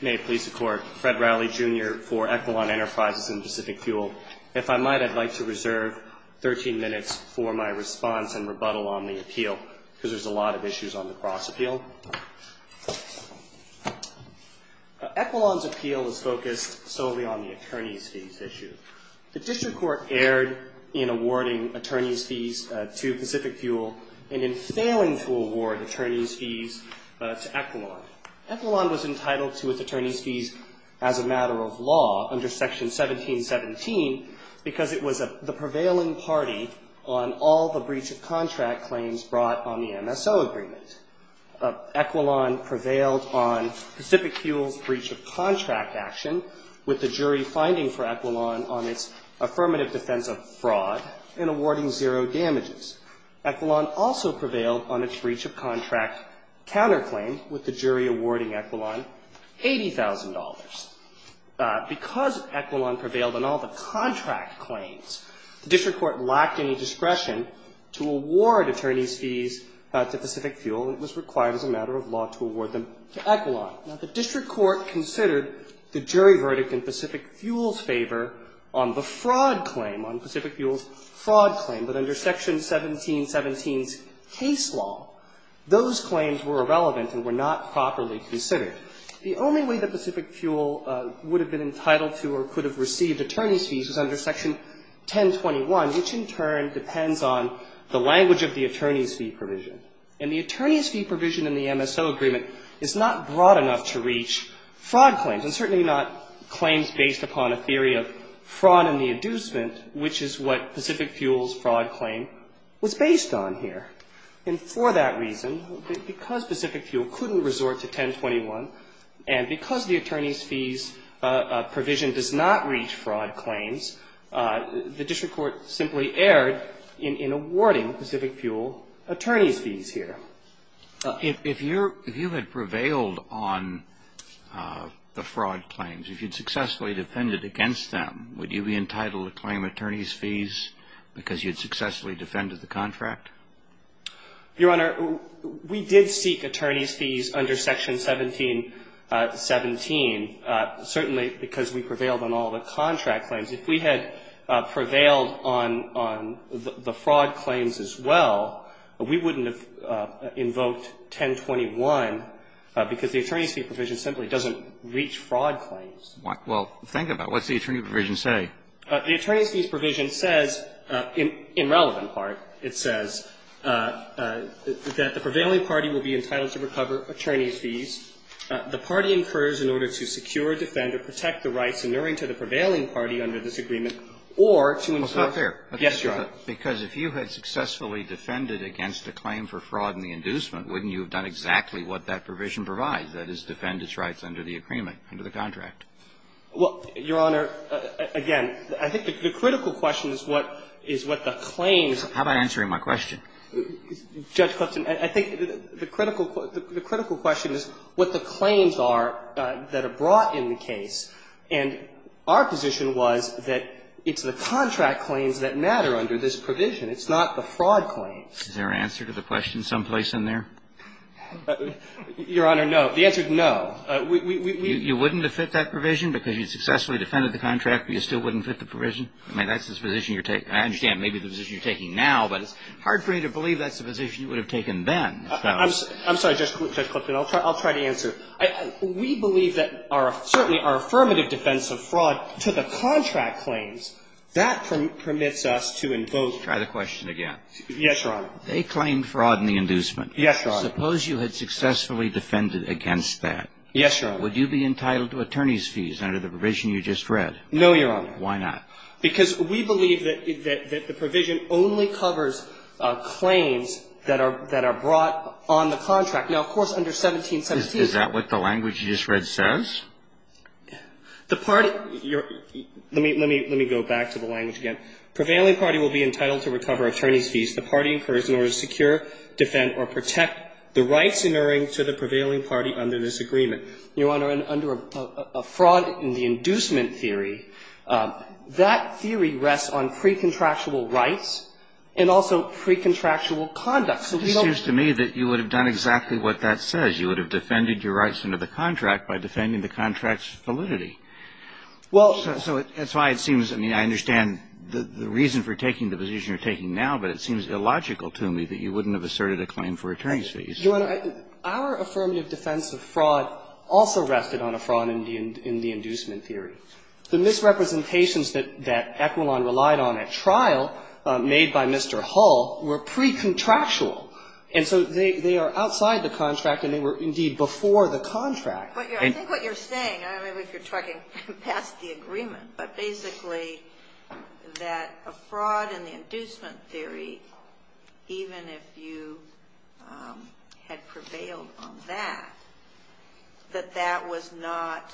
May it please the Court, Fred Rowley, Jr. for Equilon Enterprises and Pacific Fuel. If I might, I'd like to reserve 13 minutes for my response and rebuttal on the appeal, because there's a lot of issues on the cross-appeal. Equilon's appeal is focused solely on the attorneys' fees issue. The district court erred in awarding attorneys' fees to Pacific Fuel and in failing to award attorneys' fees to Equilon. Equilon was entitled to its attorneys' fees as a matter of law under Section 1717 because it was the prevailing party on all the breach-of-contract claims brought on the MSO agreement. Equilon prevailed on Pacific Fuel's breach-of-contract action, with the jury finding for Equilon on its affirmative defense of fraud and awarding zero damages. Equilon also prevailed on its breach-of-contract counterclaim, with the jury awarding Equilon $80,000. Because Equilon prevailed on all the contract claims, the district court lacked any discretion to award attorneys' fees to Pacific Fuel. It was required as a matter of law to award them to Equilon. Now, the district court considered the jury verdict in Pacific Fuel's favor on the fraud claim, on Pacific Fuel's fraud claim, but under Section 1717's case law, those claims were irrelevant and were not properly considered. The only way that Pacific Fuel would have been entitled to or could have received attorneys' fees was under Section 1021, which in turn depends on the language of the attorneys' fee provision. And the attorneys' fee provision in the MSO agreement is not broad enough to reach fraud in the inducement, which is what Pacific Fuel's fraud claim was based on here. And for that reason, because Pacific Fuel couldn't resort to 1021, and because the attorneys' fees provision does not reach fraud claims, the district court simply erred in awarding Pacific Fuel attorneys' fees here. If you had prevailed on the fraud claims, if you'd successfully defended against them, would you be entitled to claim attorneys' fees because you'd successfully defended the contract? Your Honor, we did seek attorneys' fees under Section 1717, certainly because we prevailed on all the contract claims. If we had prevailed on the fraud claims as well, we wouldn't have invoked 1021 because the attorneys' fee provision simply doesn't reach fraud claims. Well, think about it. What's the attorneys' fees provision say? The attorneys' fees provision says, in relevant part, it says that the prevailing party will be entitled to recover attorneys' fees. The party incurs in order to secure, defend, or protect the rights inuring to the prevailing party under this agreement, or to incur guest charges. Well, it's not fair, because if you had successfully defended against a claim for fraud in the inducement, wouldn't you have done exactly what that provision provides, that is, defend its rights under the agreement, under the contract? Well, Your Honor, again, I think the critical question is what the claims are. How about answering my question? Judge Clifton, I think the critical question is what the claims are that are brought in the case, and our position was that it's the contract claims that matter under this provision. It's not the fraud claims. Is there an answer to the question someplace in there? Your Honor, no. The answer is no. We we we we we You wouldn't have fit that provision because you successfully defended the contract, but you still wouldn't fit the provision? I mean, that's the position you're taking. I understand maybe the position you're taking now, but it's hard for me to believe that's the position you would have taken then. I'm sorry, Judge Clifton. I'll try to answer. We believe that certainly our affirmative defense of fraud to the contract claims, that permits us to invoke. Try the question again. Yes, Your Honor. They claimed fraud in the inducement. Yes, Your Honor. Suppose you had successfully defended against that. Yes, Your Honor. Would you be entitled to attorney's fees under the provision you just read? No, Your Honor. Why not? Because we believe that the provision only covers claims that are brought on the contract. Now, of course, under 1717. Is that what the language you just read says? The party you're let me let me let me go back to the language again. Prevailing party will be entitled to recover attorney's fees. The party incurs in order to secure, defend or protect the rights inerring to the prevailing party under this agreement. Your Honor, under a fraud in the inducement theory, that theory rests on pre-contractual rights and also pre-contractual conduct. It seems to me that you would have done exactly what that says. You would have defended your rights under the contract by defending the contract's validity. Well. So that's why it seems, I mean, I understand the reason for taking the position you're taking now, but it seems illogical to me that you wouldn't have asserted a claim for attorney's fees. Your Honor, our affirmative defense of fraud also rested on a fraud in the inducement theory. The misrepresentations that Equilon relied on at trial made by Mr. Hull were pre-contractual and so they are outside the contract and they were indeed before the contract. But I think what you're saying, I don't know if you're talking past the agreement, but basically that a fraud in the inducement theory, even if you had prevailed on that, that that was not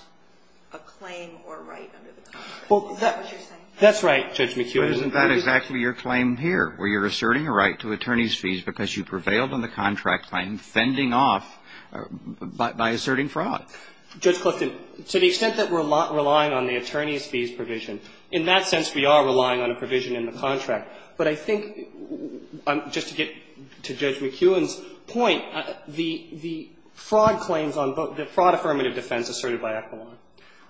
a claim or right under the contract. Is that what you're saying? That's right, Judge McHugh. But isn't that exactly your claim here, where you're asserting a right to attorney's fees because you prevailed on the contract claim, fending off by asserting fraud? Judge Clifton, to the extent that we're relying on the attorney's fees provision, in that sense we are relying on a provision in the contract. But I think, just to get to Judge McHugh's point, the fraud claims on both the fraud affirmative defense asserted by Equilon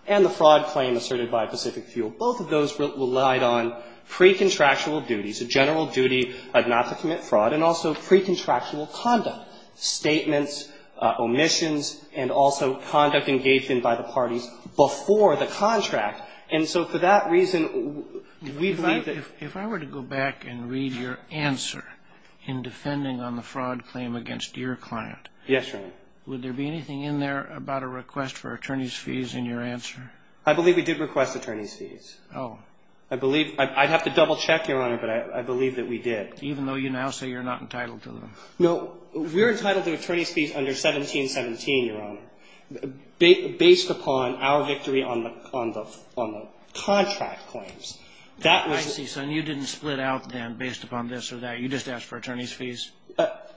and the fraud claim asserted by Pacific Fuel, both of those relied on pre-contractual duties, a general duty not to commit fraud, and also pre-contractual conduct, statements, omissions, and also conduct engaged in by the parties before the contract. And so for that reason, we believe that ---- If I were to go back and read your answer in defending on the fraud claim against your client ---- Yes, Your Honor. Would there be anything in there about a request for attorney's fees in your answer? I believe we did request attorney's fees. Oh. I believe ---- I'd have to double-check, Your Honor, but I believe that we did. Even though you now say you're not entitled to them. No. We're entitled to attorney's fees under 1717, Your Honor, based upon our victory on the contract claims. That was ---- I see. So you didn't split out then based upon this or that. You just asked for attorney's fees.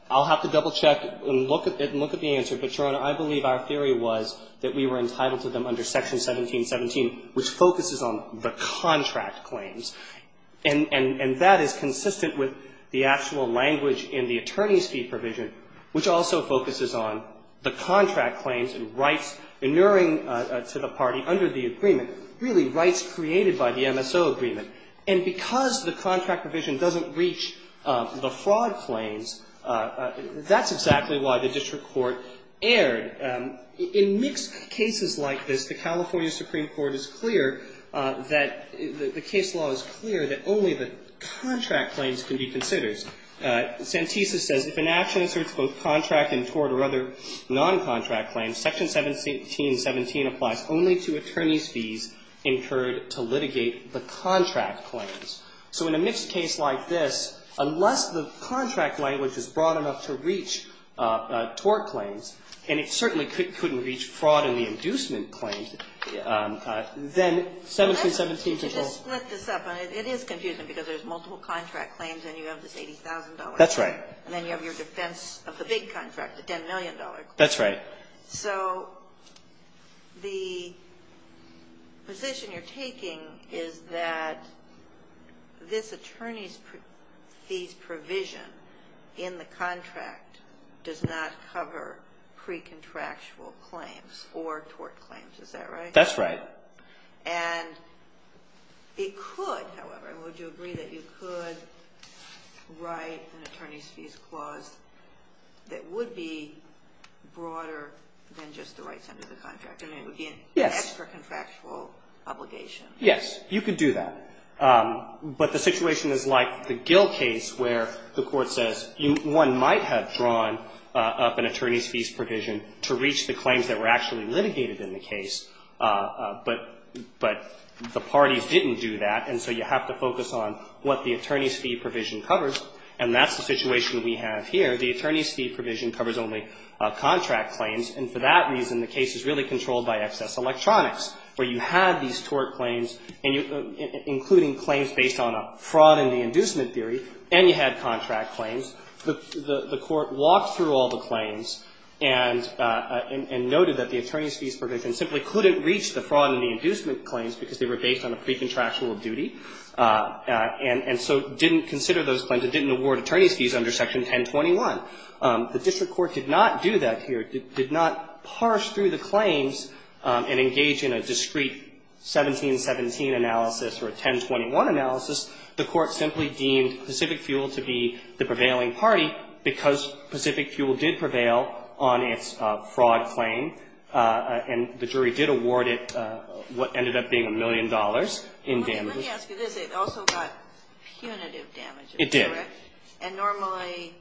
I'll have to double-check and look at the answer. But, Your Honor, I believe our theory was that we were entitled to them under Section 1717, which focuses on the contract claims. And that is consistent with the actual language in the attorney's fee provision, which also focuses on the contract claims and rights inuring to the party under the agreement, really rights created by the MSO agreement. And because the contract provision doesn't reach the fraud claims, that's exactly why the district court erred. In mixed cases like this, the California Supreme Court is clear that the case law is clear that only the contract claims can be considered. Santisa says if an action asserts both contract and tort or other noncontract claims, Section 1717 applies only to attorney's fees incurred to litigate the contract claims. So in a mixed case like this, unless the contract language is broad enough to reach tort claims, and it certainly couldn't reach fraud in the inducement claims, then 1717 controls ---- Let's split this up. It is confusing because there's multiple contract claims and you have this $80,000 claim. That's right. And then you have your defense of the big contract, the $10 million claim. That's right. So the position you're taking is that this attorney's fees provision in the contract does not cover pre-contractual claims or tort claims. Is that right? That's right. And it could, however, would you agree that you could write an attorney's fees clause that would be broader than just the rights under the contract? Yes. And it would be an extra contractual obligation. Yes. You could do that. But the situation is like the Gill case where the Court says one might have drawn up an attorney's fees provision to reach the claims that were actually litigated in the case, but the parties didn't do that, and so you have to focus on what the attorney's fee provision covers, and that's the situation we have here. The attorney's fee provision covers only contract claims, and for that reason, the case is really controlled by excess electronics, where you have these tort claims, including claims based on a fraud in the inducement theory, and you had contract claims. The Court walked through all the claims and noted that the attorney's fees provision simply couldn't reach the fraud in the inducement claims because they were based on a pre-contractual duty, and so didn't consider those claims. It didn't award attorney's fees under Section 1021. The district court did not do that here, did not parse through the claims and engage in a discrete 1717 analysis or a 1021 analysis. The Court simply deemed Pacific Fuel to be the prevailing party because Pacific Fuel did prevail on its fraud claim, and the jury did award it what ended up being a million dollars in damages. Let me ask you this. It also got punitive damages, correct? It did. And normally,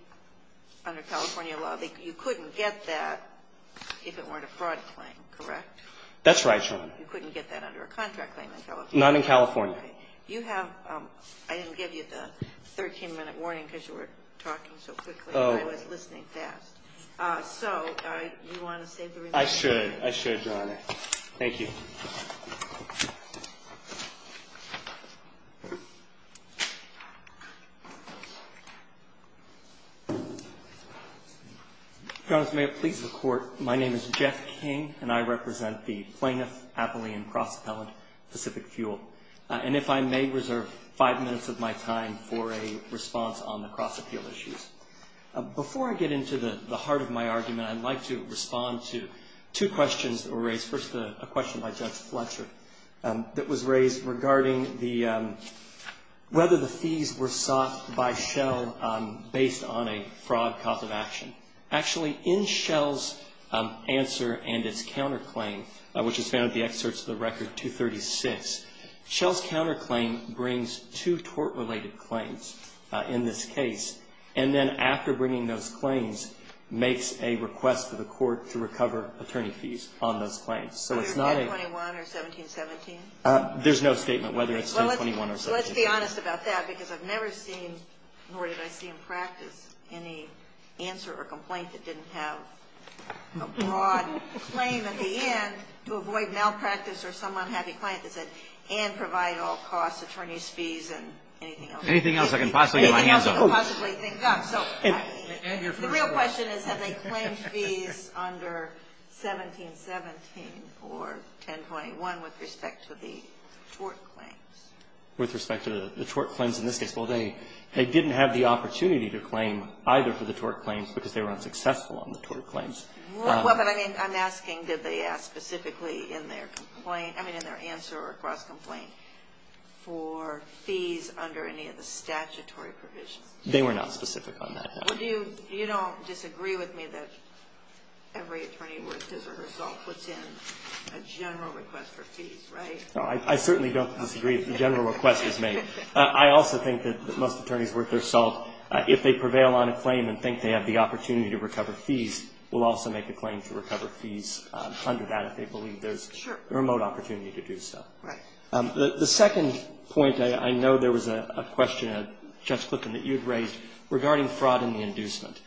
under California law, you couldn't get that if it weren't a fraud claim, correct? That's right, Your Honor. You couldn't get that under a contract claim in California? Not in California. Okay. You have, I didn't give you the 13-minute warning because you were talking so quickly and I was listening fast. Oh. So, you want to save the remaining time? I should. I should, Your Honor. Thank you. Your Honor, may it please the Court, my name is Jeff King, and I represent the plaintiff Appellee and Cross-Appellant Pacific Fuel. And if I may reserve five minutes of my time for a response on the cross-appeal issues. Before I get into the heart of my argument, I'd like to respond to two questions that were raised. First, a question by Judge Fletcher that was raised regarding whether the fees were sought by Shell based on a fraud cause of action. Actually, in Shell's answer and its counterclaim, which is found in the excerpts of the record 236, Shell's counterclaim brings two tort-related claims in this case. And then after bringing those claims, makes a request to the Court to recover attorney fees on those claims. So it's not a Whether it's 1021 or 1717? There's no statement whether it's 1021 or 1717. Well, let's be honest about that because I've never seen, nor did I see in practice, any answer or complaint that didn't have a broad claim at the end to avoid malpractice or some unhappy client that said, and provide all costs, attorney's fees, and anything else. Anything else I can possibly get my hands on. Anything else I can possibly think of. So the real question is, have they claimed fees under 1717 or 1021 with respect to the tort claims? With respect to the tort claims in this case? Well, they didn't have the opportunity to claim either for the tort claims because they were unsuccessful on the tort claims. Well, but I mean, I'm asking, did they ask specifically in their complaint, I mean, in their answer or cross-complaint for fees under any of the statutory provisions? They were not specific on that. Well, do you, you don't disagree with me that every attorney worth his or her salt puts in a general request for fees, right? No, I certainly don't disagree if the general request is made. I also think that most attorneys worth their salt, if they prevail on a claim and think they have the opportunity to recover fees, will also make a claim to recover fees under that if they believe there's a remote opportunity to do so. Right. The second point, I know there was a question, Judge Clifton, that you had raised regarding fraud and the inducement.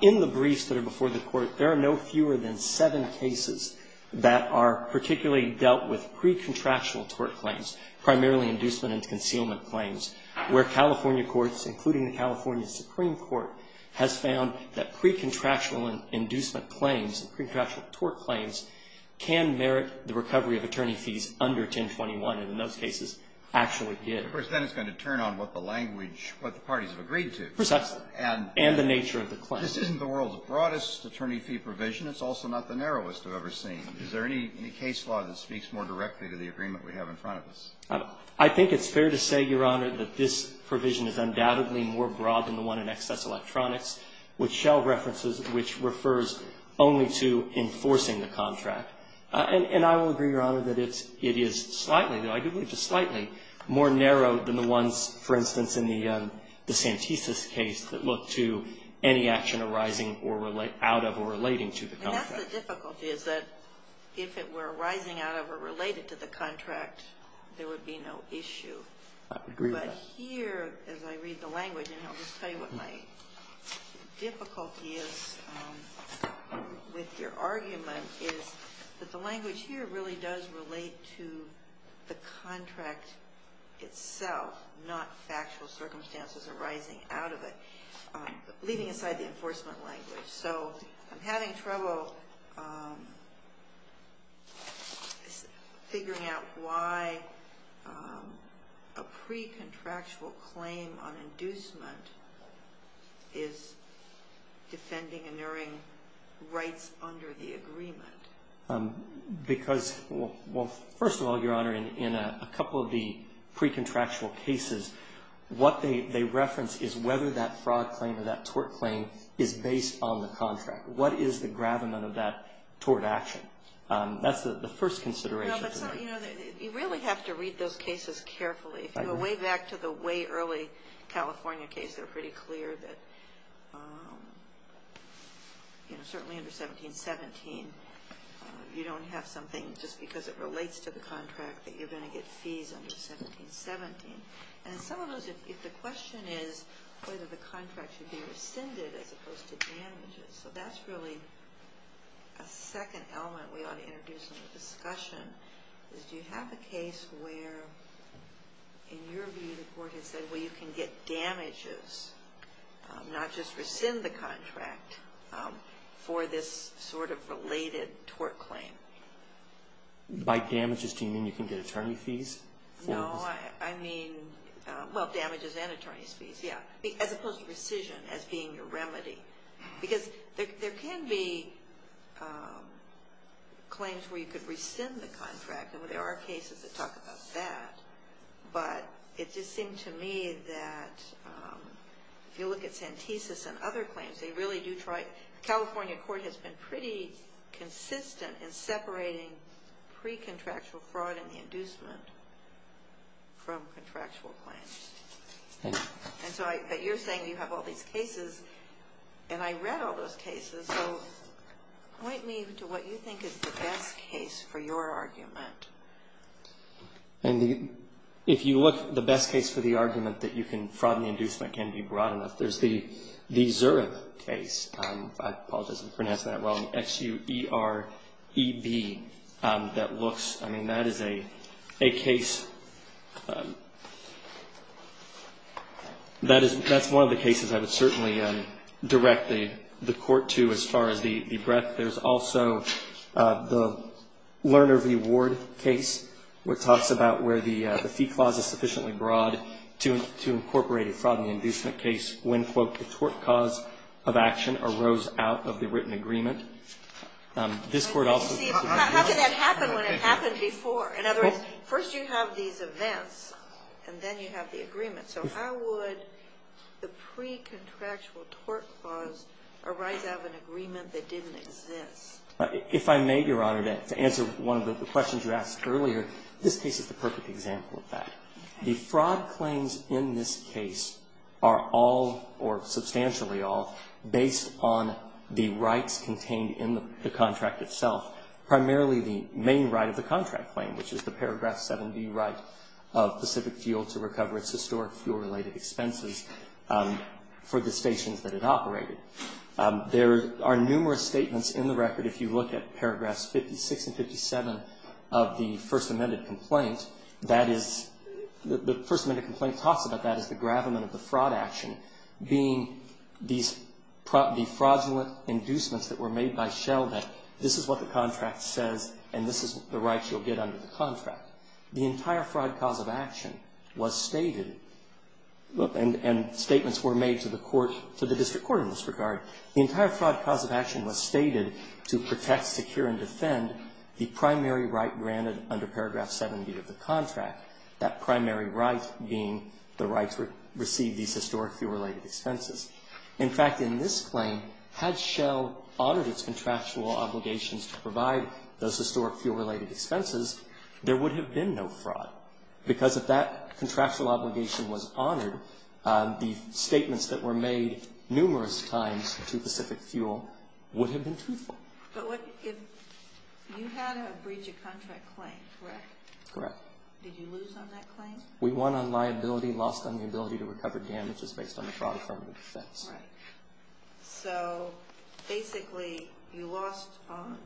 In the briefs that are before the Court, there are no fewer than seven cases that are particularly dealt with pre-contractual tort claims, primarily inducement and concealment claims, where California courts, including the California Supreme Court, has found that pre-contractual inducement claims and pre-contractual tort claims can merit the recovery of attorney fees under 1021, and in those cases actually did. Of course, then it's going to turn on what the language, what the parties have agreed Precisely. And the nature of the claim. This isn't the world's broadest attorney fee provision. It's also not the narrowest I've ever seen. Is there any case law that speaks more directly to the agreement we have in front of us? I think it's fair to say, Your Honor, that this provision is undoubtedly more broad than the one in Excess Electronics, which Shell references, which refers only to enforcing the contract. And I will agree, Your Honor, that it is slightly, though I do believe it's slightly, more narrow than the ones, for instance, in the Santisus case that look to any actual information arising out of or relating to the contract. And that's the difficulty, is that if it were arising out of or related to the contract, there would be no issue. I agree with that. But here, as I read the language, and I'll just tell you what my difficulty is with your argument, is that the language here really does relate to the contract itself, not factual circumstances arising out of it. Leaving aside the enforcement language. So, I'm having trouble figuring out why a pre-contractual claim on inducement is defending and nearing rights under the agreement. Because, well, first of all, Your Honor, in a couple of the pre-contractual cases, what they reference is whether that fraud claim or that tort claim is based on the contract. What is the gravamen of that tort action? That's the first consideration for me. No, but, you know, you really have to read those cases carefully. If you go way back to the way early California case, they're pretty clear that, you know, certainly under 1717, you don't have something just because it relates to the contract that you're going to get fees under 1717. And some of those, if the question is whether the contract should be rescinded as opposed to damages, so that's really a second element we ought to introduce in the discussion, is do you have a case where, in your view, the court has said, well, you can get damages, not just rescind the contract, for this sort of related tort claim? By damages, do you mean you can get attorney fees? No, I mean, well, damages and attorney's fees, yeah, as opposed to rescission as being a remedy. Because there can be claims where you could rescind the contract, and there are cases that talk about that, but it just seemed to me that if you look at Santesis and other claims, they really do try, the California court has been pretty consistent in separating pre-contractual fraud and the inducement from contractual claims. And so, but you're saying you have all these cases, and I read all those cases, so point me to what you think is the best case for your argument. If you look, the best case for the argument that you can fraud and inducement can be broad enough, there's the Zurich case, I apologize if I'm pronouncing that wrong, X-U-E-R-E-V, that looks, I mean, that is a case, that's one of the cases I would certainly direct the court to as far as the breadth. There's also the Lerner v. Ward case, which talks about where the fee clause is sufficiently broad to incorporate a fraud and inducement case when, quote, the tort cause of action arose out of the written agreement. This Court also. See, how can that happen when it happened before? In other words, first you have these events, and then you have the agreement. So how would the pre-contractual tort clause arise out of an agreement that didn't exist? If I may, Your Honor, to answer one of the questions you asked earlier, this case is the perfect example of that. The fraud claims in this case are all, or substantially all, based on the rights contained in the contract itself. Primarily the main right of the contract claim, which is the paragraph 7B right of Pacific Fuel to recover its historic fuel-related expenses for the stations that it operated. There are numerous statements in the record. If you look at paragraphs 56 and 57 of the First Amended Complaint, that is, the First Amended Complaint talks about that as the gravamen of the fraud action being these defraudulent inducements that were made by Shell that this is what the contract says, and this is the rights you'll get under the contract. The entire fraud cause of action was stated, and statements were made to the court, to the district court in this regard. The entire fraud cause of action was stated to protect, secure, and defend the primary right granted under paragraph 7B of the contract, that primary right being the rights to receive these historic fuel-related expenses. In fact, in this claim, had Shell honored its contractual obligations to provide those historic fuel-related expenses, there would have been no fraud. Because if that contractual obligation was honored, the statements that were made numerous times to Pacific Fuel would have been truthful. But if you had a breach of contract claim, correct? Correct. Did you lose on that claim? We won on liability, lost on the ability to recover damages based on the fraud affirmative defense. Right. So basically, you lost on,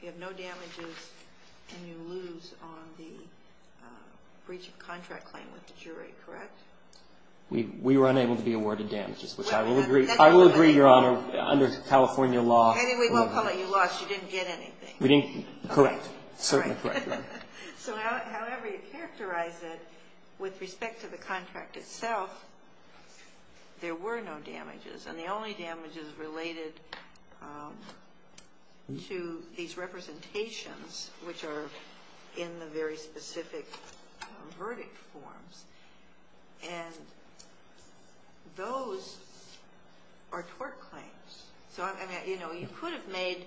you have no damages, and you lose on the breach of contract claim with the jury, correct? We were unable to be awarded damages, which I will agree, Your Honor, under California law. Anyway, we won't call it you lost. You didn't get anything. Correct. Certainly correct. So however you characterize it, with respect to the contract itself, there were no damages. And the only damages related to these representations, which are in the very specific verdict forms, and those are tort claims. You could have made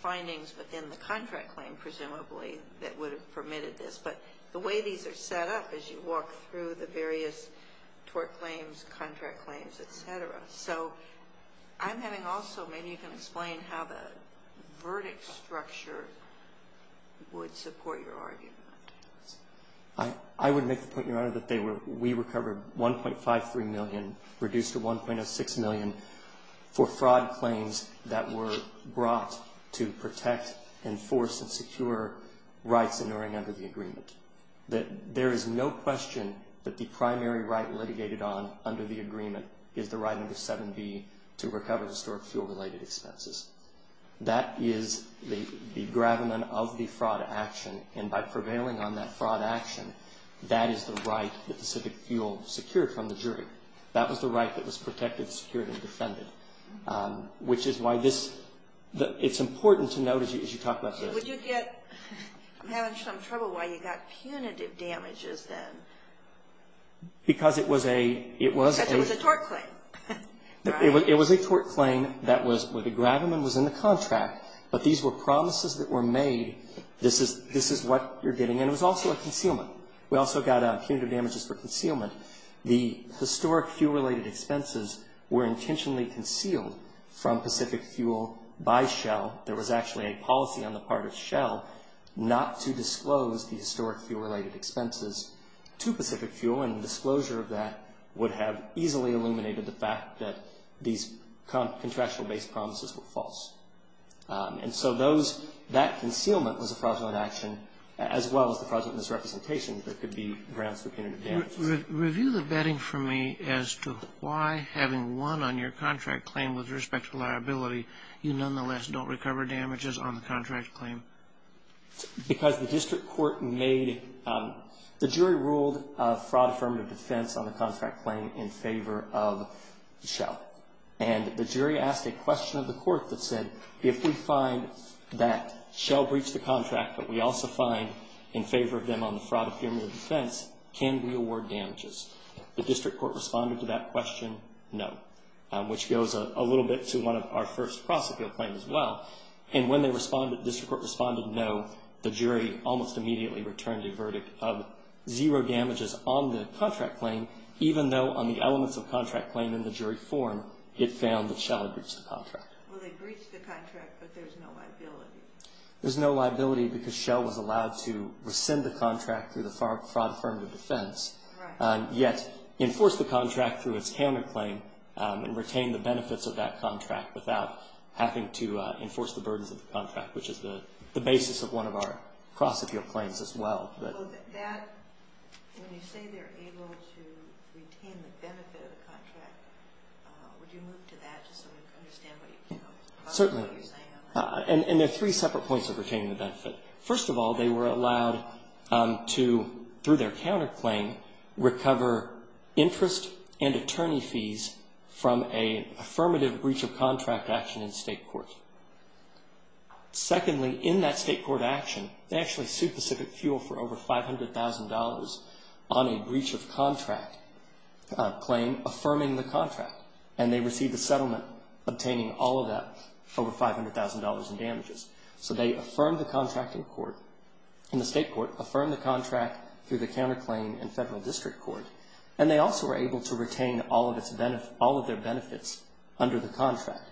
findings within the contract claim, presumably, that would have permitted this. But the way these are set up is you walk through the various tort claims, contract claims, et cetera. So I'm having also, maybe you can explain how the verdict structure would support your argument. I would make the point, Your Honor, that we recovered $1.53 million, reduced to $1.06 million, for fraud claims that were brought to protect, enforce, and secure rights inuring under the agreement. There is no question that the primary right litigated on under the agreement is the right under 7B to recover historic fuel-related expenses. That is the gravamen of the fraud action, and by prevailing on that fraud action, that is the right that the civic fuel secured from the jury. That was the right that was protected, secured, and defended, which is why this – it's important to note as you talk about this. Would you get – I'm having some trouble why you got punitive damages then. Because it was a – it was a – Because it was a tort claim. It was a tort claim that was – where the gravamen was in the contract, but these were promises that were made, this is what you're getting. And it was also a concealment. We also got punitive damages for concealment. The historic fuel-related expenses were intentionally concealed from Pacific Fuel by Shell. There was actually a policy on the part of Shell not to disclose the historic fuel-related expenses to Pacific Fuel, and the disclosure of that would have easily illuminated the fact that these contractual-based promises were false. And so those – that concealment was a fraudulent action as well as the fraudulent misrepresentation that could be grounds for punitive damages. Review the betting for me as to why, having won on your contract claim with respect to liability, you nonetheless don't recover damages on the contract claim. Because the district court made – the jury ruled a fraud-affirmative defense on the contract claim in favor of Shell. And the jury asked a question of the court that said, if we find that Shell breached the contract but we also find in favor of them on the fraud-affirmative defense, can we award damages? The district court responded to that question, no, which goes a little bit to one of our first prosecutorial claims as well. And when they responded – the district court responded no, the jury almost immediately returned a verdict of zero damages on the contract claim, even though on the elements of contract claim in the jury form, it found that Shell had breached the contract. Well, they breached the contract, but there's no liability. There's no liability because Shell was allowed to rescind the contract through the fraud-affirmative defense, yet enforce the contract through its counterclaim and retain the benefits of that contract without having to enforce the burdens of the contract, which is the basis of one of our prosecutorial claims as well. When you say they're able to retain the benefit of the contract, would you move to that just so we can understand what you're saying? Certainly. And there are three separate points of retaining the benefit. First of all, they were allowed to, through their counterclaim, recover interest and attorney fees from an affirmative breach of contract action in state court. Secondly, in that state court action, they actually sued Pacific Fuel for over $500,000 on a breach of contract claim, affirming the contract. And they received a settlement obtaining all of that over $500,000 in damages. So they affirmed the contract in court, in the state court, affirmed the contract through the counterclaim and federal district court, and they also were able to retain all of their benefits under the contract.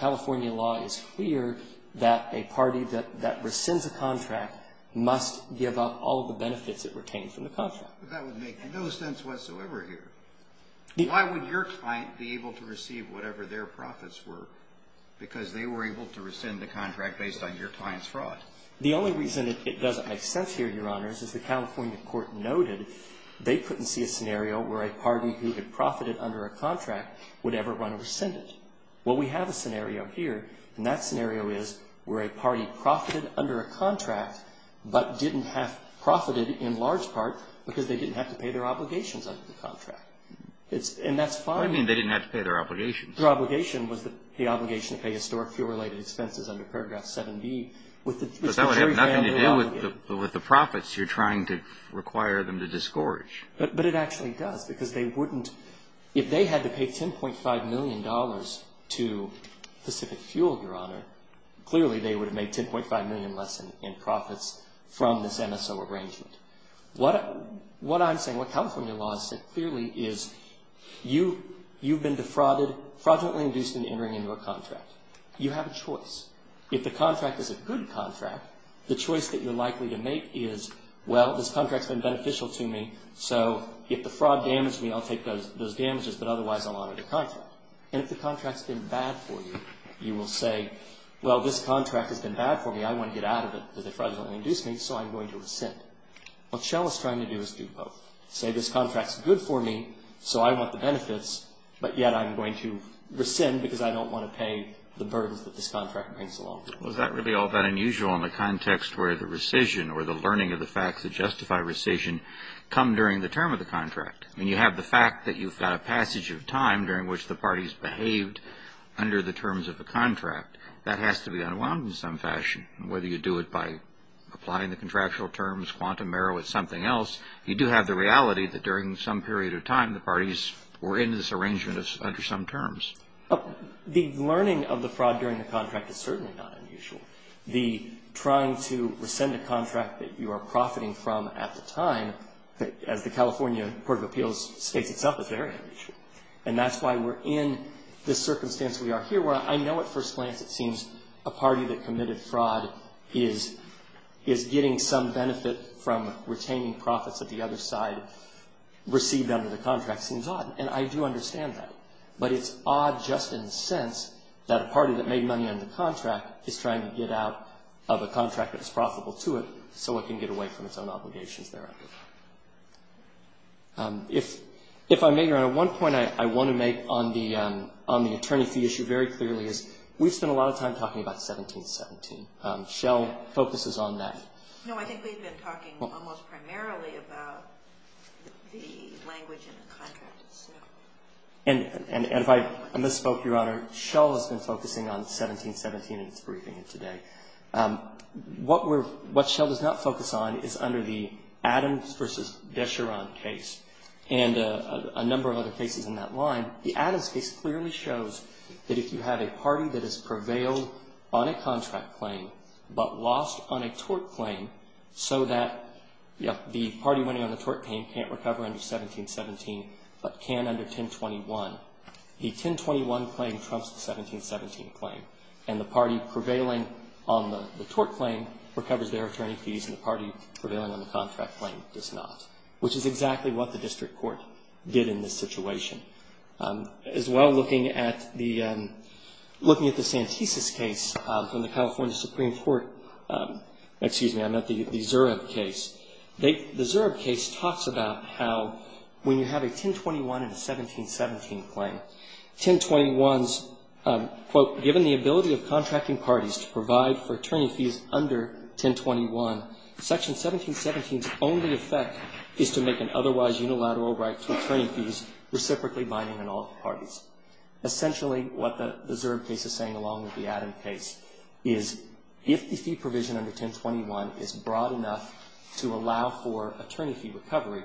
California law is clear that a party that rescinds a contract must give up all of the benefits it retains from the contract. But that would make no sense whatsoever here. Why would your client be able to receive whatever their profits were? Because they were able to rescind the contract based on your client's fraud. The only reason it doesn't make sense here, Your Honors, is the California court noted they couldn't see a scenario where a party who had profited under a contract would ever run or rescind it. Well, we have a scenario here, and that scenario is where a party profited under a contract but didn't have profited in large part because they didn't have to pay their obligations under the contract. And that's fine. What do you mean they didn't have to pay their obligations? Their obligation was the obligation to pay historic fuel-related expenses under Paragraph 7B, which was very grandly obligated. But that would have nothing to do with the profits you're trying to require them to disgorge. But it actually does, because they wouldn't – if they had to pay $10.5 million to Pacific Fuel, Your Honor, clearly they would have made $10.5 million less in profits from this MSO arrangement. What I'm saying, what California law said clearly is you've been defrauded, fraudulently induced into entering into a contract. You have a choice. If the contract is a good contract, the choice that you're likely to make is, well, this contract's been beneficial to me, so if the fraud damaged me, I'll take those damages, but otherwise I'll honor the contract. And if the contract's been bad for you, you will say, well, this contract has been bad for me. I want to get out of it because they fraudulently induced me, so I'm going to rescind. What Shell is trying to do is do both. Say this contract's good for me, so I want the benefits, but yet I'm going to rescind because I don't want to pay the burdens that this contract brings along. Well, is that really all that unusual in the context where the rescission or the learning of the facts that justify rescission come during the term of the contract? I mean, you have the fact that you've got a passage of time during which the parties behaved under the terms of the contract. That has to be unwound in some fashion, whether you do it by applying the contractual terms, quantum error with something else. You do have the reality that during some period of time, the parties were in this arrangement under some terms. The learning of the fraud during the contract is certainly not unusual. The trying to rescind a contract that you are profiting from at the time, as the California Court of Appeals states itself, is very unusual. And that's why we're in this circumstance we are here where I know at first glance it seems a party that committed fraud is getting some benefit from retaining profits at the other side received under the contract seems odd. And I do understand that. But it's odd just in the sense that a party that made money under the contract is trying to get out of a contract that was profitable to it so it can get away from its own obligations thereafter. If I may, Your Honor, one point I want to make on the attorney fee issue very We've spent a lot of time talking about 1717. Shell focuses on that. No, I think we've been talking almost primarily about the language in the contract. And if I misspoke, Your Honor, Shell has been focusing on 1717 in its briefing today. What Shell does not focus on is under the Adams v. Vecheron case and a number of other cases in that line. The Adams case clearly shows that if you have a party that has prevailed on a contract claim but lost on a tort claim so that the party winning on the tort claim can't recover under 1717 but can under 1021, the 1021 claim trumps the 1717 claim. And the party prevailing on the tort claim recovers their attorney fees and the party prevailing on the contract claim does not, which is exactly what the looking at the Santisis case from the California Supreme Court. Excuse me, I meant the Zurab case. The Zurab case talks about how when you have a 1021 and a 1717 claim, 1021's quote, given the ability of contracting parties to provide for attorney fees under 1021, section 1717's only effect is to make an otherwise unilateral right to attorney fees reciprocally binding on all parties. Essentially what the Zurab case is saying along with the Adams case is if the fee provision under 1021 is broad enough to allow for attorney fee recovery,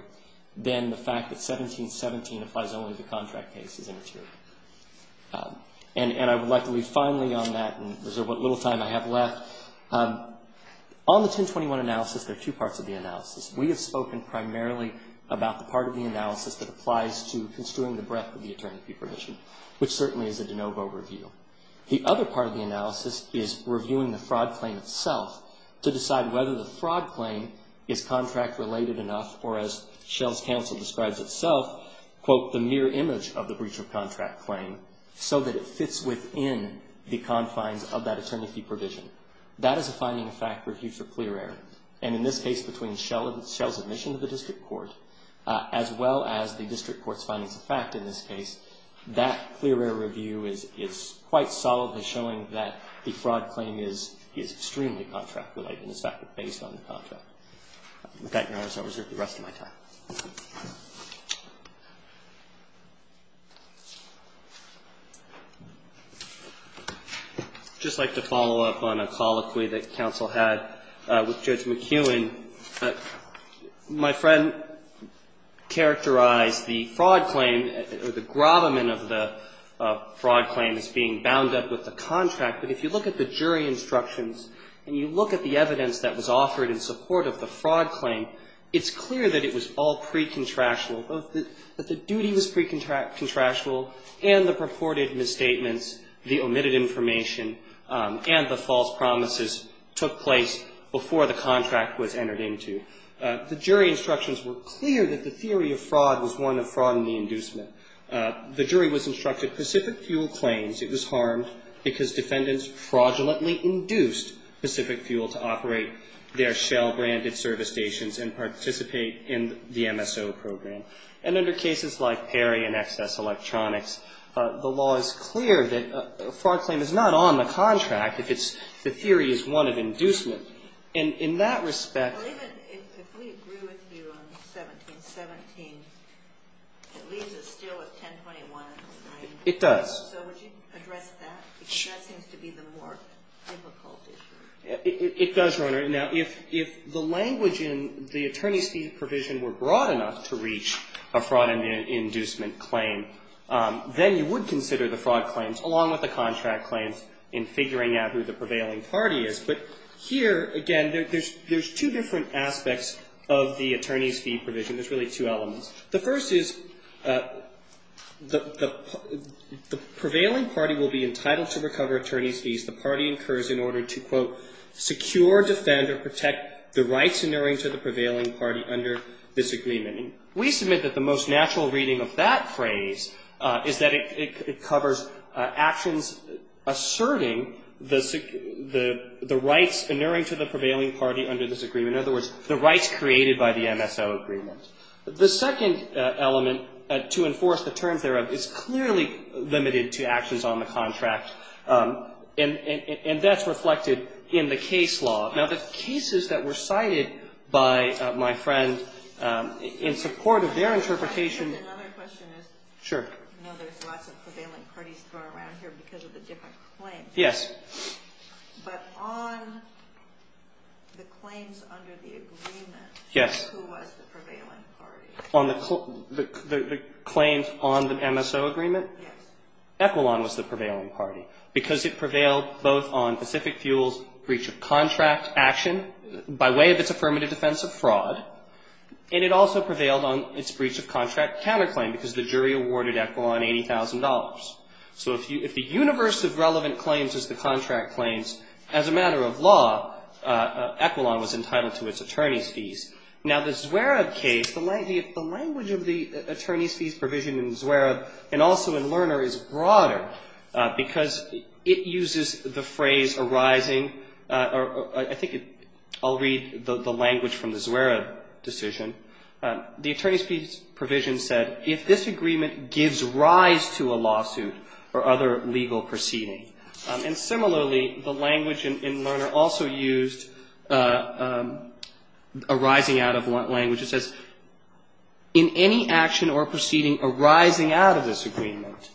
then the fact that 1717 applies only to contract cases is immaterial. And I would like to leave finally on that and reserve what little time I have left. We have spoken primarily about the part of the analysis that applies to construing the breadth of the attorney fee provision, which certainly is a de novo review. The other part of the analysis is reviewing the fraud claim itself to decide whether the fraud claim is contract related enough or as Shell's counsel describes itself, quote, the mirror image of the breach of contract claim so that it fits within the confines of that attorney fee provision. That is a finding of fact review for clear error. And in this case between Shell's admission to the district court as well as the district court's findings of fact in this case, that clear error review is quite solidly showing that the fraud claim is extremely contract related. In fact, it's based on the contract. With that, Your Honor, I will reserve the rest of my time. I would just like to follow up on a colloquy that counsel had with Judge McEwen. My friend characterized the fraud claim or the grabberment of the fraud claim as being bound up with the contract. But if you look at the jury instructions and you look at the evidence that was offered in support of the fraud claim, it's clear that it was all part of the pre-contractual, that the duty was pre-contractual and the purported misstatements, the omitted information and the false promises took place before the contract was entered into. The jury instructions were clear that the theory of fraud was one of fraud in the inducement. The jury was instructed Pacific Fuel claims it was harmed because defendants fraudulently induced Pacific Fuel to operate their Shell-branded service stations and participate in the MSO program. And under cases like Perry and Excess Electronics, the law is clear that a fraud claim is not on the contract if the theory is one of inducement. And in that respect ---- Well, even if we agree with you on 1717, it leaves us still with 1021. It does. So would you address that? It does, Your Honor. Now, if the language in the attorney's fee provision were broad enough to reach a fraud inducement claim, then you would consider the fraud claims along with the contract claims in figuring out who the prevailing party is. But here, again, there's two different aspects of the attorney's fee provision. There's really two elements. The first is the prevailing party will be entitled to recover attorney's fees the rights inerring to the prevailing party under this agreement. And we submit that the most natural reading of that phrase is that it covers actions asserting the rights inerring to the prevailing party under this agreement. In other words, the rights created by the MSO agreement. The second element to enforce the terms thereof is clearly limited to actions on the contract. And that's reflected in the case law. Now, the cases that were cited by my friend in support of their interpretation Another question is. Sure. There's lots of prevailing parties thrown around here because of the different claims. Yes. But on the claims under the agreement. Yes. Who was the prevailing party? On the claims on the MSO agreement? Yes. Equilon was the prevailing party. Because it prevailed both on Pacific Fuel's breach of contract action by way of its affirmative defense of fraud. And it also prevailed on its breach of contract counterclaim because the jury awarded Equilon $80,000. So if the universe of relevant claims is the contract claims, as a matter of law, Equilon was entitled to its attorney's fees. Now, the Zwerab case, the language of the attorney's fees provision in Zwerab and also in Lerner is broader because it uses the phrase arising. I think I'll read the language from the Zwerab decision. The attorney's fees provision said, If this agreement gives rise to a lawsuit or other legal proceeding. And similarly, the language in Lerner also used arising out of language. It says, In any action or proceeding arising out of this agreement.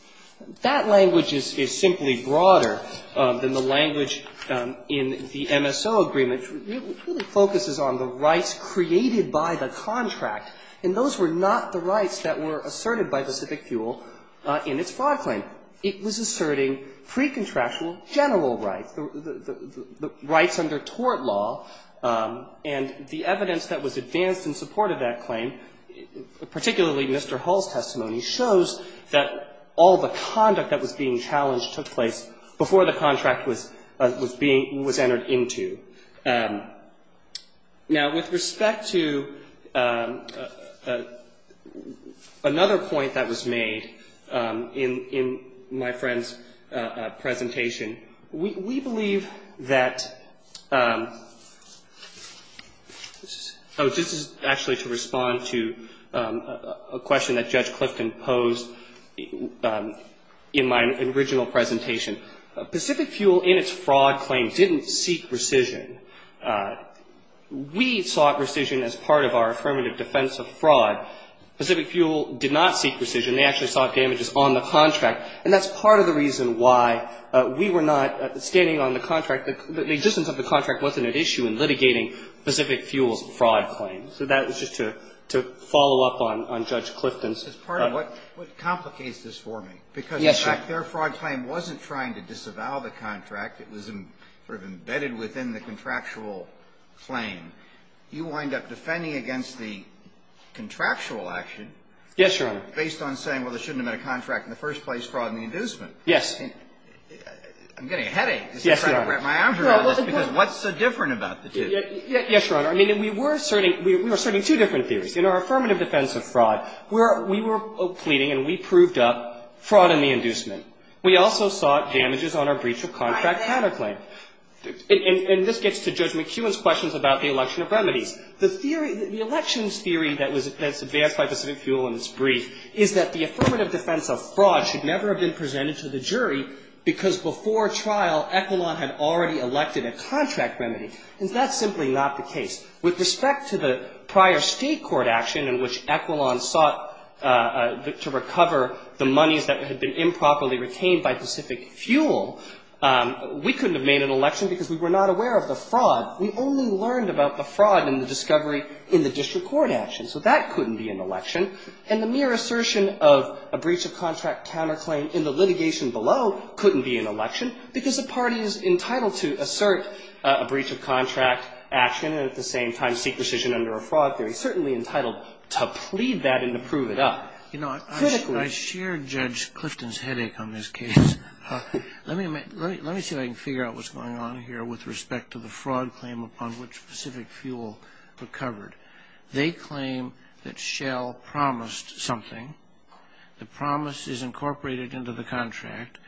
That language is simply broader than the language in the MSO agreement. It really focuses on the rights created by the contract. And those were not the rights that were asserted by Pacific Fuel in its fraud claim. It was asserting precontractual general rights, the rights under tort law. And the evidence that was advanced in support of that claim, particularly Mr. Hall's testimony, shows that all the conduct that was being challenged took place before the contract was being, was entered into. Now, with respect to another point that was made in my friend's presentation, we believe that, oh, this is actually to respond to a question that Judge Clifton posed in my original presentation. Pacific Fuel in its fraud claim didn't seek rescission. We sought rescission as part of our affirmative defense of fraud. Pacific Fuel did not seek rescission. They actually sought damages on the contract. And that's part of the reason why we were not standing on the contract. The existence of the contract wasn't at issue in litigating Pacific Fuel's fraud claim. So that was just to follow up on Judge Clifton's point. What complicates this for me, because in fact their fraud claim wasn't trying to disavow the contract. It was sort of embedded within the contractual claim. You wind up defending against the contractual action. Yes, Your Honor. But based on saying, well, there shouldn't have been a contract in the first place, fraud in the inducement. Yes. I'm getting a headache. Yes, Your Honor. Because what's so different about the two? Yes, Your Honor. I mean, we were asserting two different theories. In our affirmative defense of fraud, we were pleading and we proved up fraud in the inducement. We also sought damages on our breach of contract counterclaim. And this gets to Judge McKeown's questions about the election of remedies. The theory, the election's theory that was advanced by Pacific Fuel in its brief is that the affirmative defense of fraud should never have been presented to the jury because before trial, Equilon had already elected a contract remedy. And that's simply not the case. With respect to the prior State court action in which Equilon sought to recover the monies that had been improperly retained by Pacific Fuel, we couldn't have made an election because we were not aware of the fraud. We only learned about the fraud in the discovery in the district court action. So that couldn't be an election. And the mere assertion of a breach of contract counterclaim in the litigation below couldn't be an election because the party is entitled to assert a breach of contract action and at the same time seek rescission under a fraud theory. It's certainly entitled to plead that and to prove it up. You know, I share Judge Clifton's headache on this case. Let me see if I can figure out what's going on here with respect to the fraud claim upon which Pacific Fuel recovered. They claim that Shell promised something. The promise is incorporated into the contract.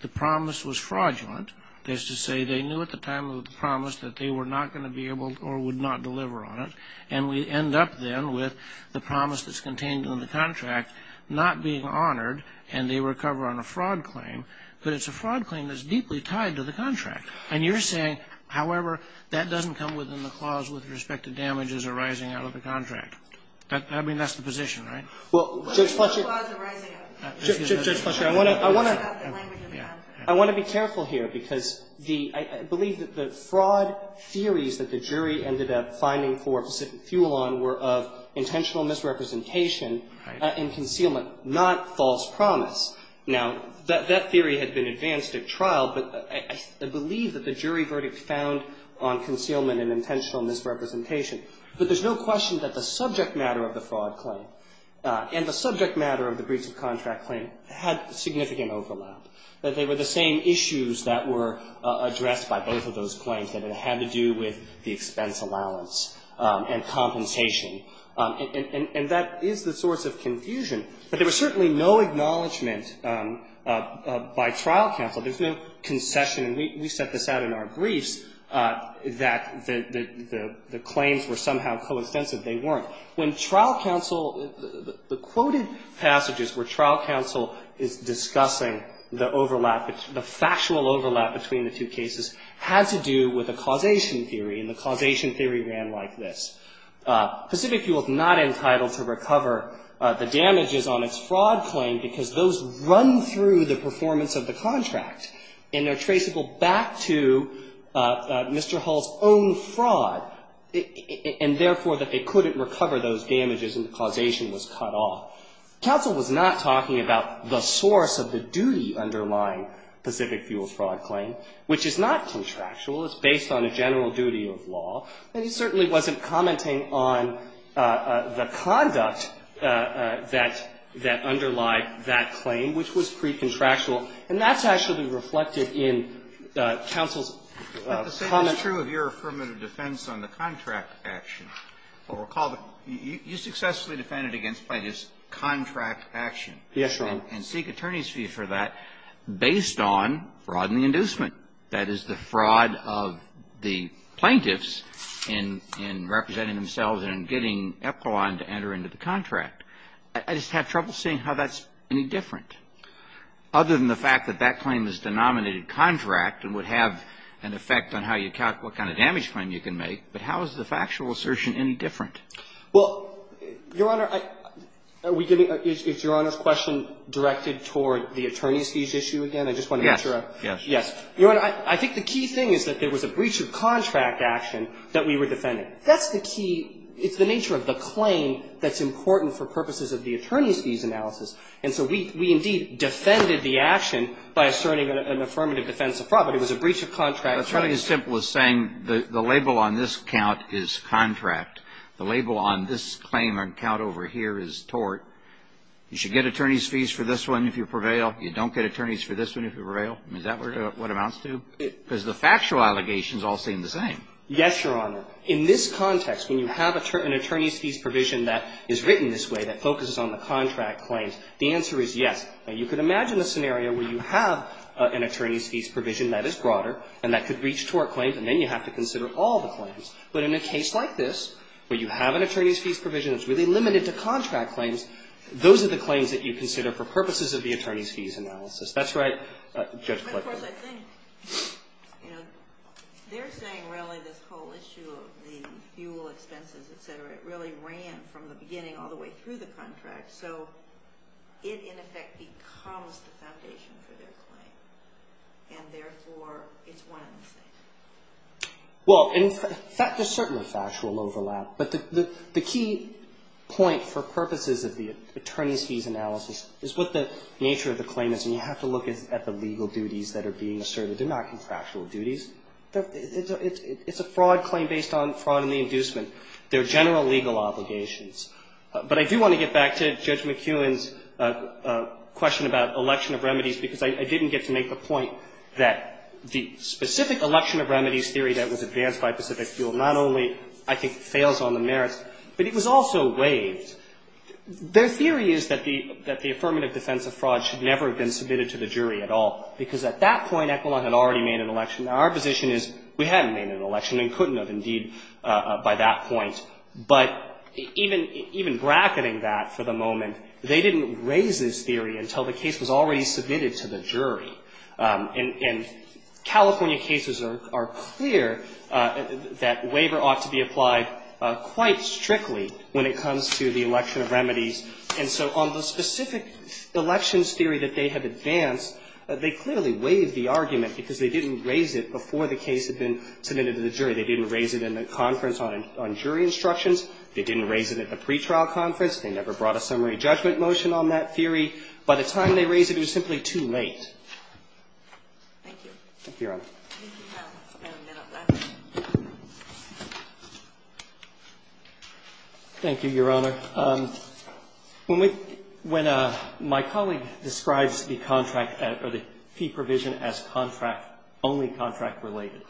The promise was fraudulent. That is to say they knew at the time of the promise that they were not going to be able or would not deliver on it. And we end up then with the promise that's contained in the contract not being honored and they recover on a fraud claim. But it's a fraud claim that's deeply tied to the contract. And you're saying, however, that doesn't come within the clause with respect to damages arising out of the contract. I mean, that's the position, right? Judge Fletcher, I want to be careful here because I believe that the fraud theories that the jury ended up finding for Pacific Fuel on were of intentional misrepresentation and concealment, not false promise. Now, that theory had been advanced at trial, but I believe that the jury verdict found on concealment and intentional misrepresentation. But there's no question that the subject matter of the fraud claim and the subject matter of the breach of contract claim had significant overlap, that they were the same issues that were addressed by both of those claims, that it had to do with the expense allowance and compensation. And that is the source of confusion. But there was certainly no acknowledgment by trial counsel. There's no concession. And we set this out in our briefs that the claims were somehow co-extensive. They weren't. When trial counsel, the quoted passages where trial counsel is discussing the overlap, the factual overlap between the two cases, had to do with a causation theory, and the causation theory ran like this. Pacific Fuel is not entitled to recover the damages on its fraud claim, because those run through the performance of the contract, and they're traceable back to Mr. Hull's own fraud, and therefore that they couldn't recover those damages and the causation was cut off. Counsel was not talking about the source of the duty underlying Pacific Fuel's fraud claim, which is not contractual. It's based on a general duty of law. And he certainly wasn't commenting on the conduct that underlie that claim, which was pre-contractual. And that's actually reflected in counsel's comment. Kennedy. But the same is true of your affirmative defense on the contract action. I'll recall that you successfully defended against plaintiffs' contract action. Yes, Your Honor. And seek attorney's fee for that based on fraud in the inducement. That is, the fraud of the plaintiffs in representing themselves and getting Epcoline to enter into the contract. I just have trouble seeing how that's any different, other than the fact that that claim is a denominated contract and would have an effect on how you calculate what kind of damage claim you can make. But how is the factual assertion any different? Well, Your Honor, I – are we getting – is Your Honor's question directed toward the attorney's fees issue again? I just want to make sure. Yes. Your Honor, I think the key thing is that there was a breach of contract action that we were defending. That's the key – it's the nature of the claim that's important for purposes of the attorney's fees analysis. And so we indeed defended the action by asserting an affirmative defense of fraud, but it was a breach of contract claim. That's really as simple as saying the label on this count is contract. The label on this claim or count over here is tort. You should get attorney's fees for this one if you prevail. You don't get attorney's fees for this one if you prevail. Is that what amounts to – because the factual allegations all seem the same. Yes, Your Honor. In this context, when you have an attorney's fees provision that is written this way that focuses on the contract claims, the answer is yes. Now, you could imagine a scenario where you have an attorney's fees provision that is broader and that could reach tort claims, and then you have to consider all the claims. But in a case like this, where you have an attorney's fees provision that's really limited to contract claims, those are the claims that you consider for purposes of the attorney's fees analysis. That's right, Judge Fletcher. But, of course, I think, you know, they're saying really this whole issue of the fuel expenses, et cetera, it really ran from the beginning all the way through the contract. So it, in effect, becomes the foundation for their claim. And, therefore, it's one and the same. Well, in fact, there's certainly factual overlap. But the key point for purposes of the attorney's fees analysis is what the nature of the claim is. And you have to look at the legal duties that are being asserted. They're not contractual duties. It's a fraud claim based on fraud and the inducement. They're general legal obligations. But I do want to get back to Judge McEwen's question about election of remedies, because I didn't get to make the point that the specific election of remedies theory that was advanced by Pacific Fuel not only, I think, fails on the merits, but it was also waived. Their theory is that the affirmative defense of fraud should never have been submitted to the jury at all, because at that point, Equilon had already made an election. Now, our position is we hadn't made an election and couldn't have, indeed, by that point. But even bracketing that for the moment, they didn't raise this theory until the case was already submitted to the jury. And California cases are clear that waiver ought to be applied quite strictly when it comes to the election of remedies. And so on the specific elections theory that they have advanced, they clearly waived the argument because they didn't raise it before the case had been submitted to the jury. They didn't raise it in the conference on jury instructions. They didn't raise it at the pretrial conference. They never brought a summary judgment motion on that theory. By the time they raised it, it was simply too late. Thank you, Your Honor. Thank you, Your Honor. When my colleague describes the contract or the fee provision as only contract related,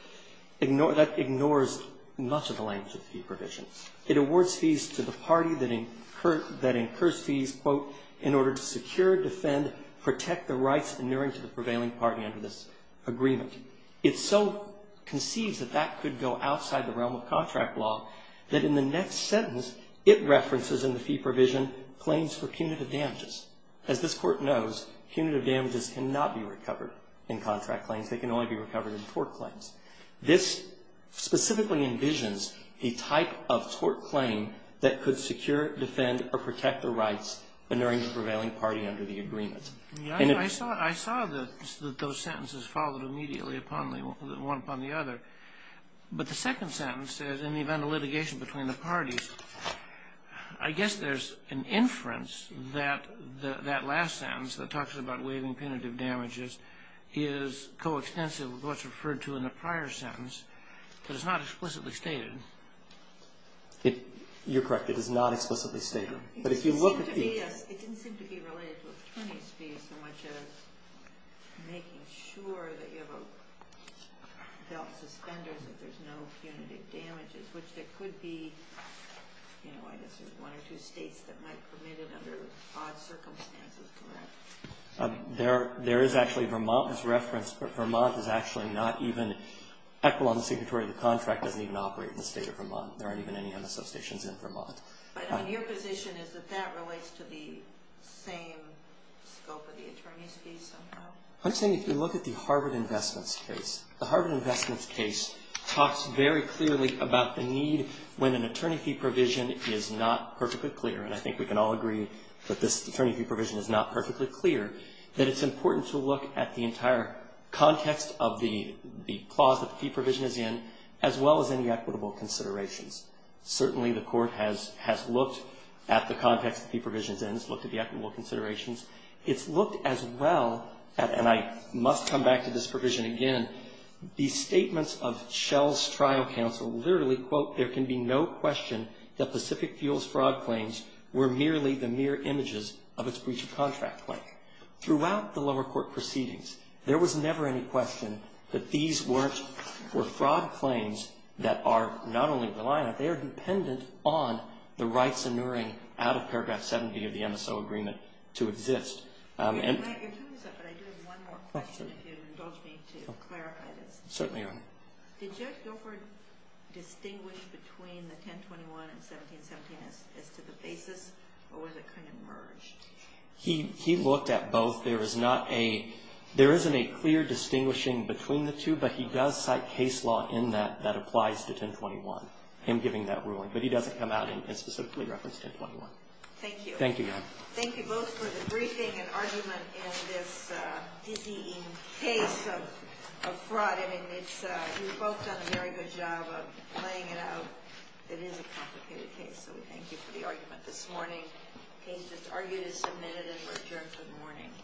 that ignores much of the language of the fee provision. It awards fees to the party that incurs fees, quote, in order to secure, defend, protect the rights inuring to the prevailing party under this agreement. It so conceives that that could go outside the realm of contract law that in the next sentence, it references in the fee provision claims for punitive damages. As this Court knows, punitive damages cannot be recovered in contract claims. They can only be recovered in tort claims. This specifically envisions the type of tort claim that could secure, defend, or protect the rights inuring the prevailing party under the agreement. I saw that those sentences followed immediately one upon the other. But the second sentence says, in the event of litigation between the parties, I guess there's an inference that that last sentence that talks about waiving punitive damages is coextensive with what's referred to in the prior sentence, but it's not explicitly stated. You're correct. It is not explicitly stated. But if you look at the- It didn't seem to be related to attorney's fees so much as making sure that you have a felt suspenders if there's no punitive damages, which there could be, you know, I guess there's one or two states that might permit it under odd circumstances, correct? There is actually Vermont that's referenced, but Vermont is actually not even equal on the signatory of the contract doesn't even operate in the state of Vermont. There aren't even any MSO stations in Vermont. But your position is that that relates to the same scope of the attorney's fees somehow? I'm saying if you look at the Harvard Investments case, the Harvard Investments case talks very clearly about the need when an attorney fee provision is not perfectly clear, and I think we can all agree that this attorney fee provision is not perfectly clear, that it's important to look at the entire context of the clause that the fee provision is in as well as any equitable considerations. Certainly the court has looked at the context of the fee provisions and has looked at the equitable considerations. It's looked as well, and I must come back to this provision again, the statements of Shell's trial counsel literally, quote, there can be no question that Pacific Fuels' fraud claims were merely the mere images of its breach of contract claim. Throughout the lower court proceedings, there was never any question that these were fraud claims that are not only reliant, they are dependent on the rights inuring out of paragraph 70 of the MSO agreement to exist. I'm glad you're doing this, but I do have one more question if you would indulge me to clarify this. Certainly, Your Honor. Did Judge Dilford distinguish between the 1021 and 1717 as to the basis, or was it kind of merged? He looked at both. There isn't a clear distinguishing between the two, but he does cite case law in that that applies to 1021, him giving that ruling, but he doesn't come out and specifically reference 1021. Thank you. Thank you, Your Honor. Thank you both for the briefing and argument in this dizzying case of fraud. I mean, you've both done a very good job of playing it out. It is a complicated case, so we thank you for the argument this morning. The case that's argued is submitted and adjourned for the morning.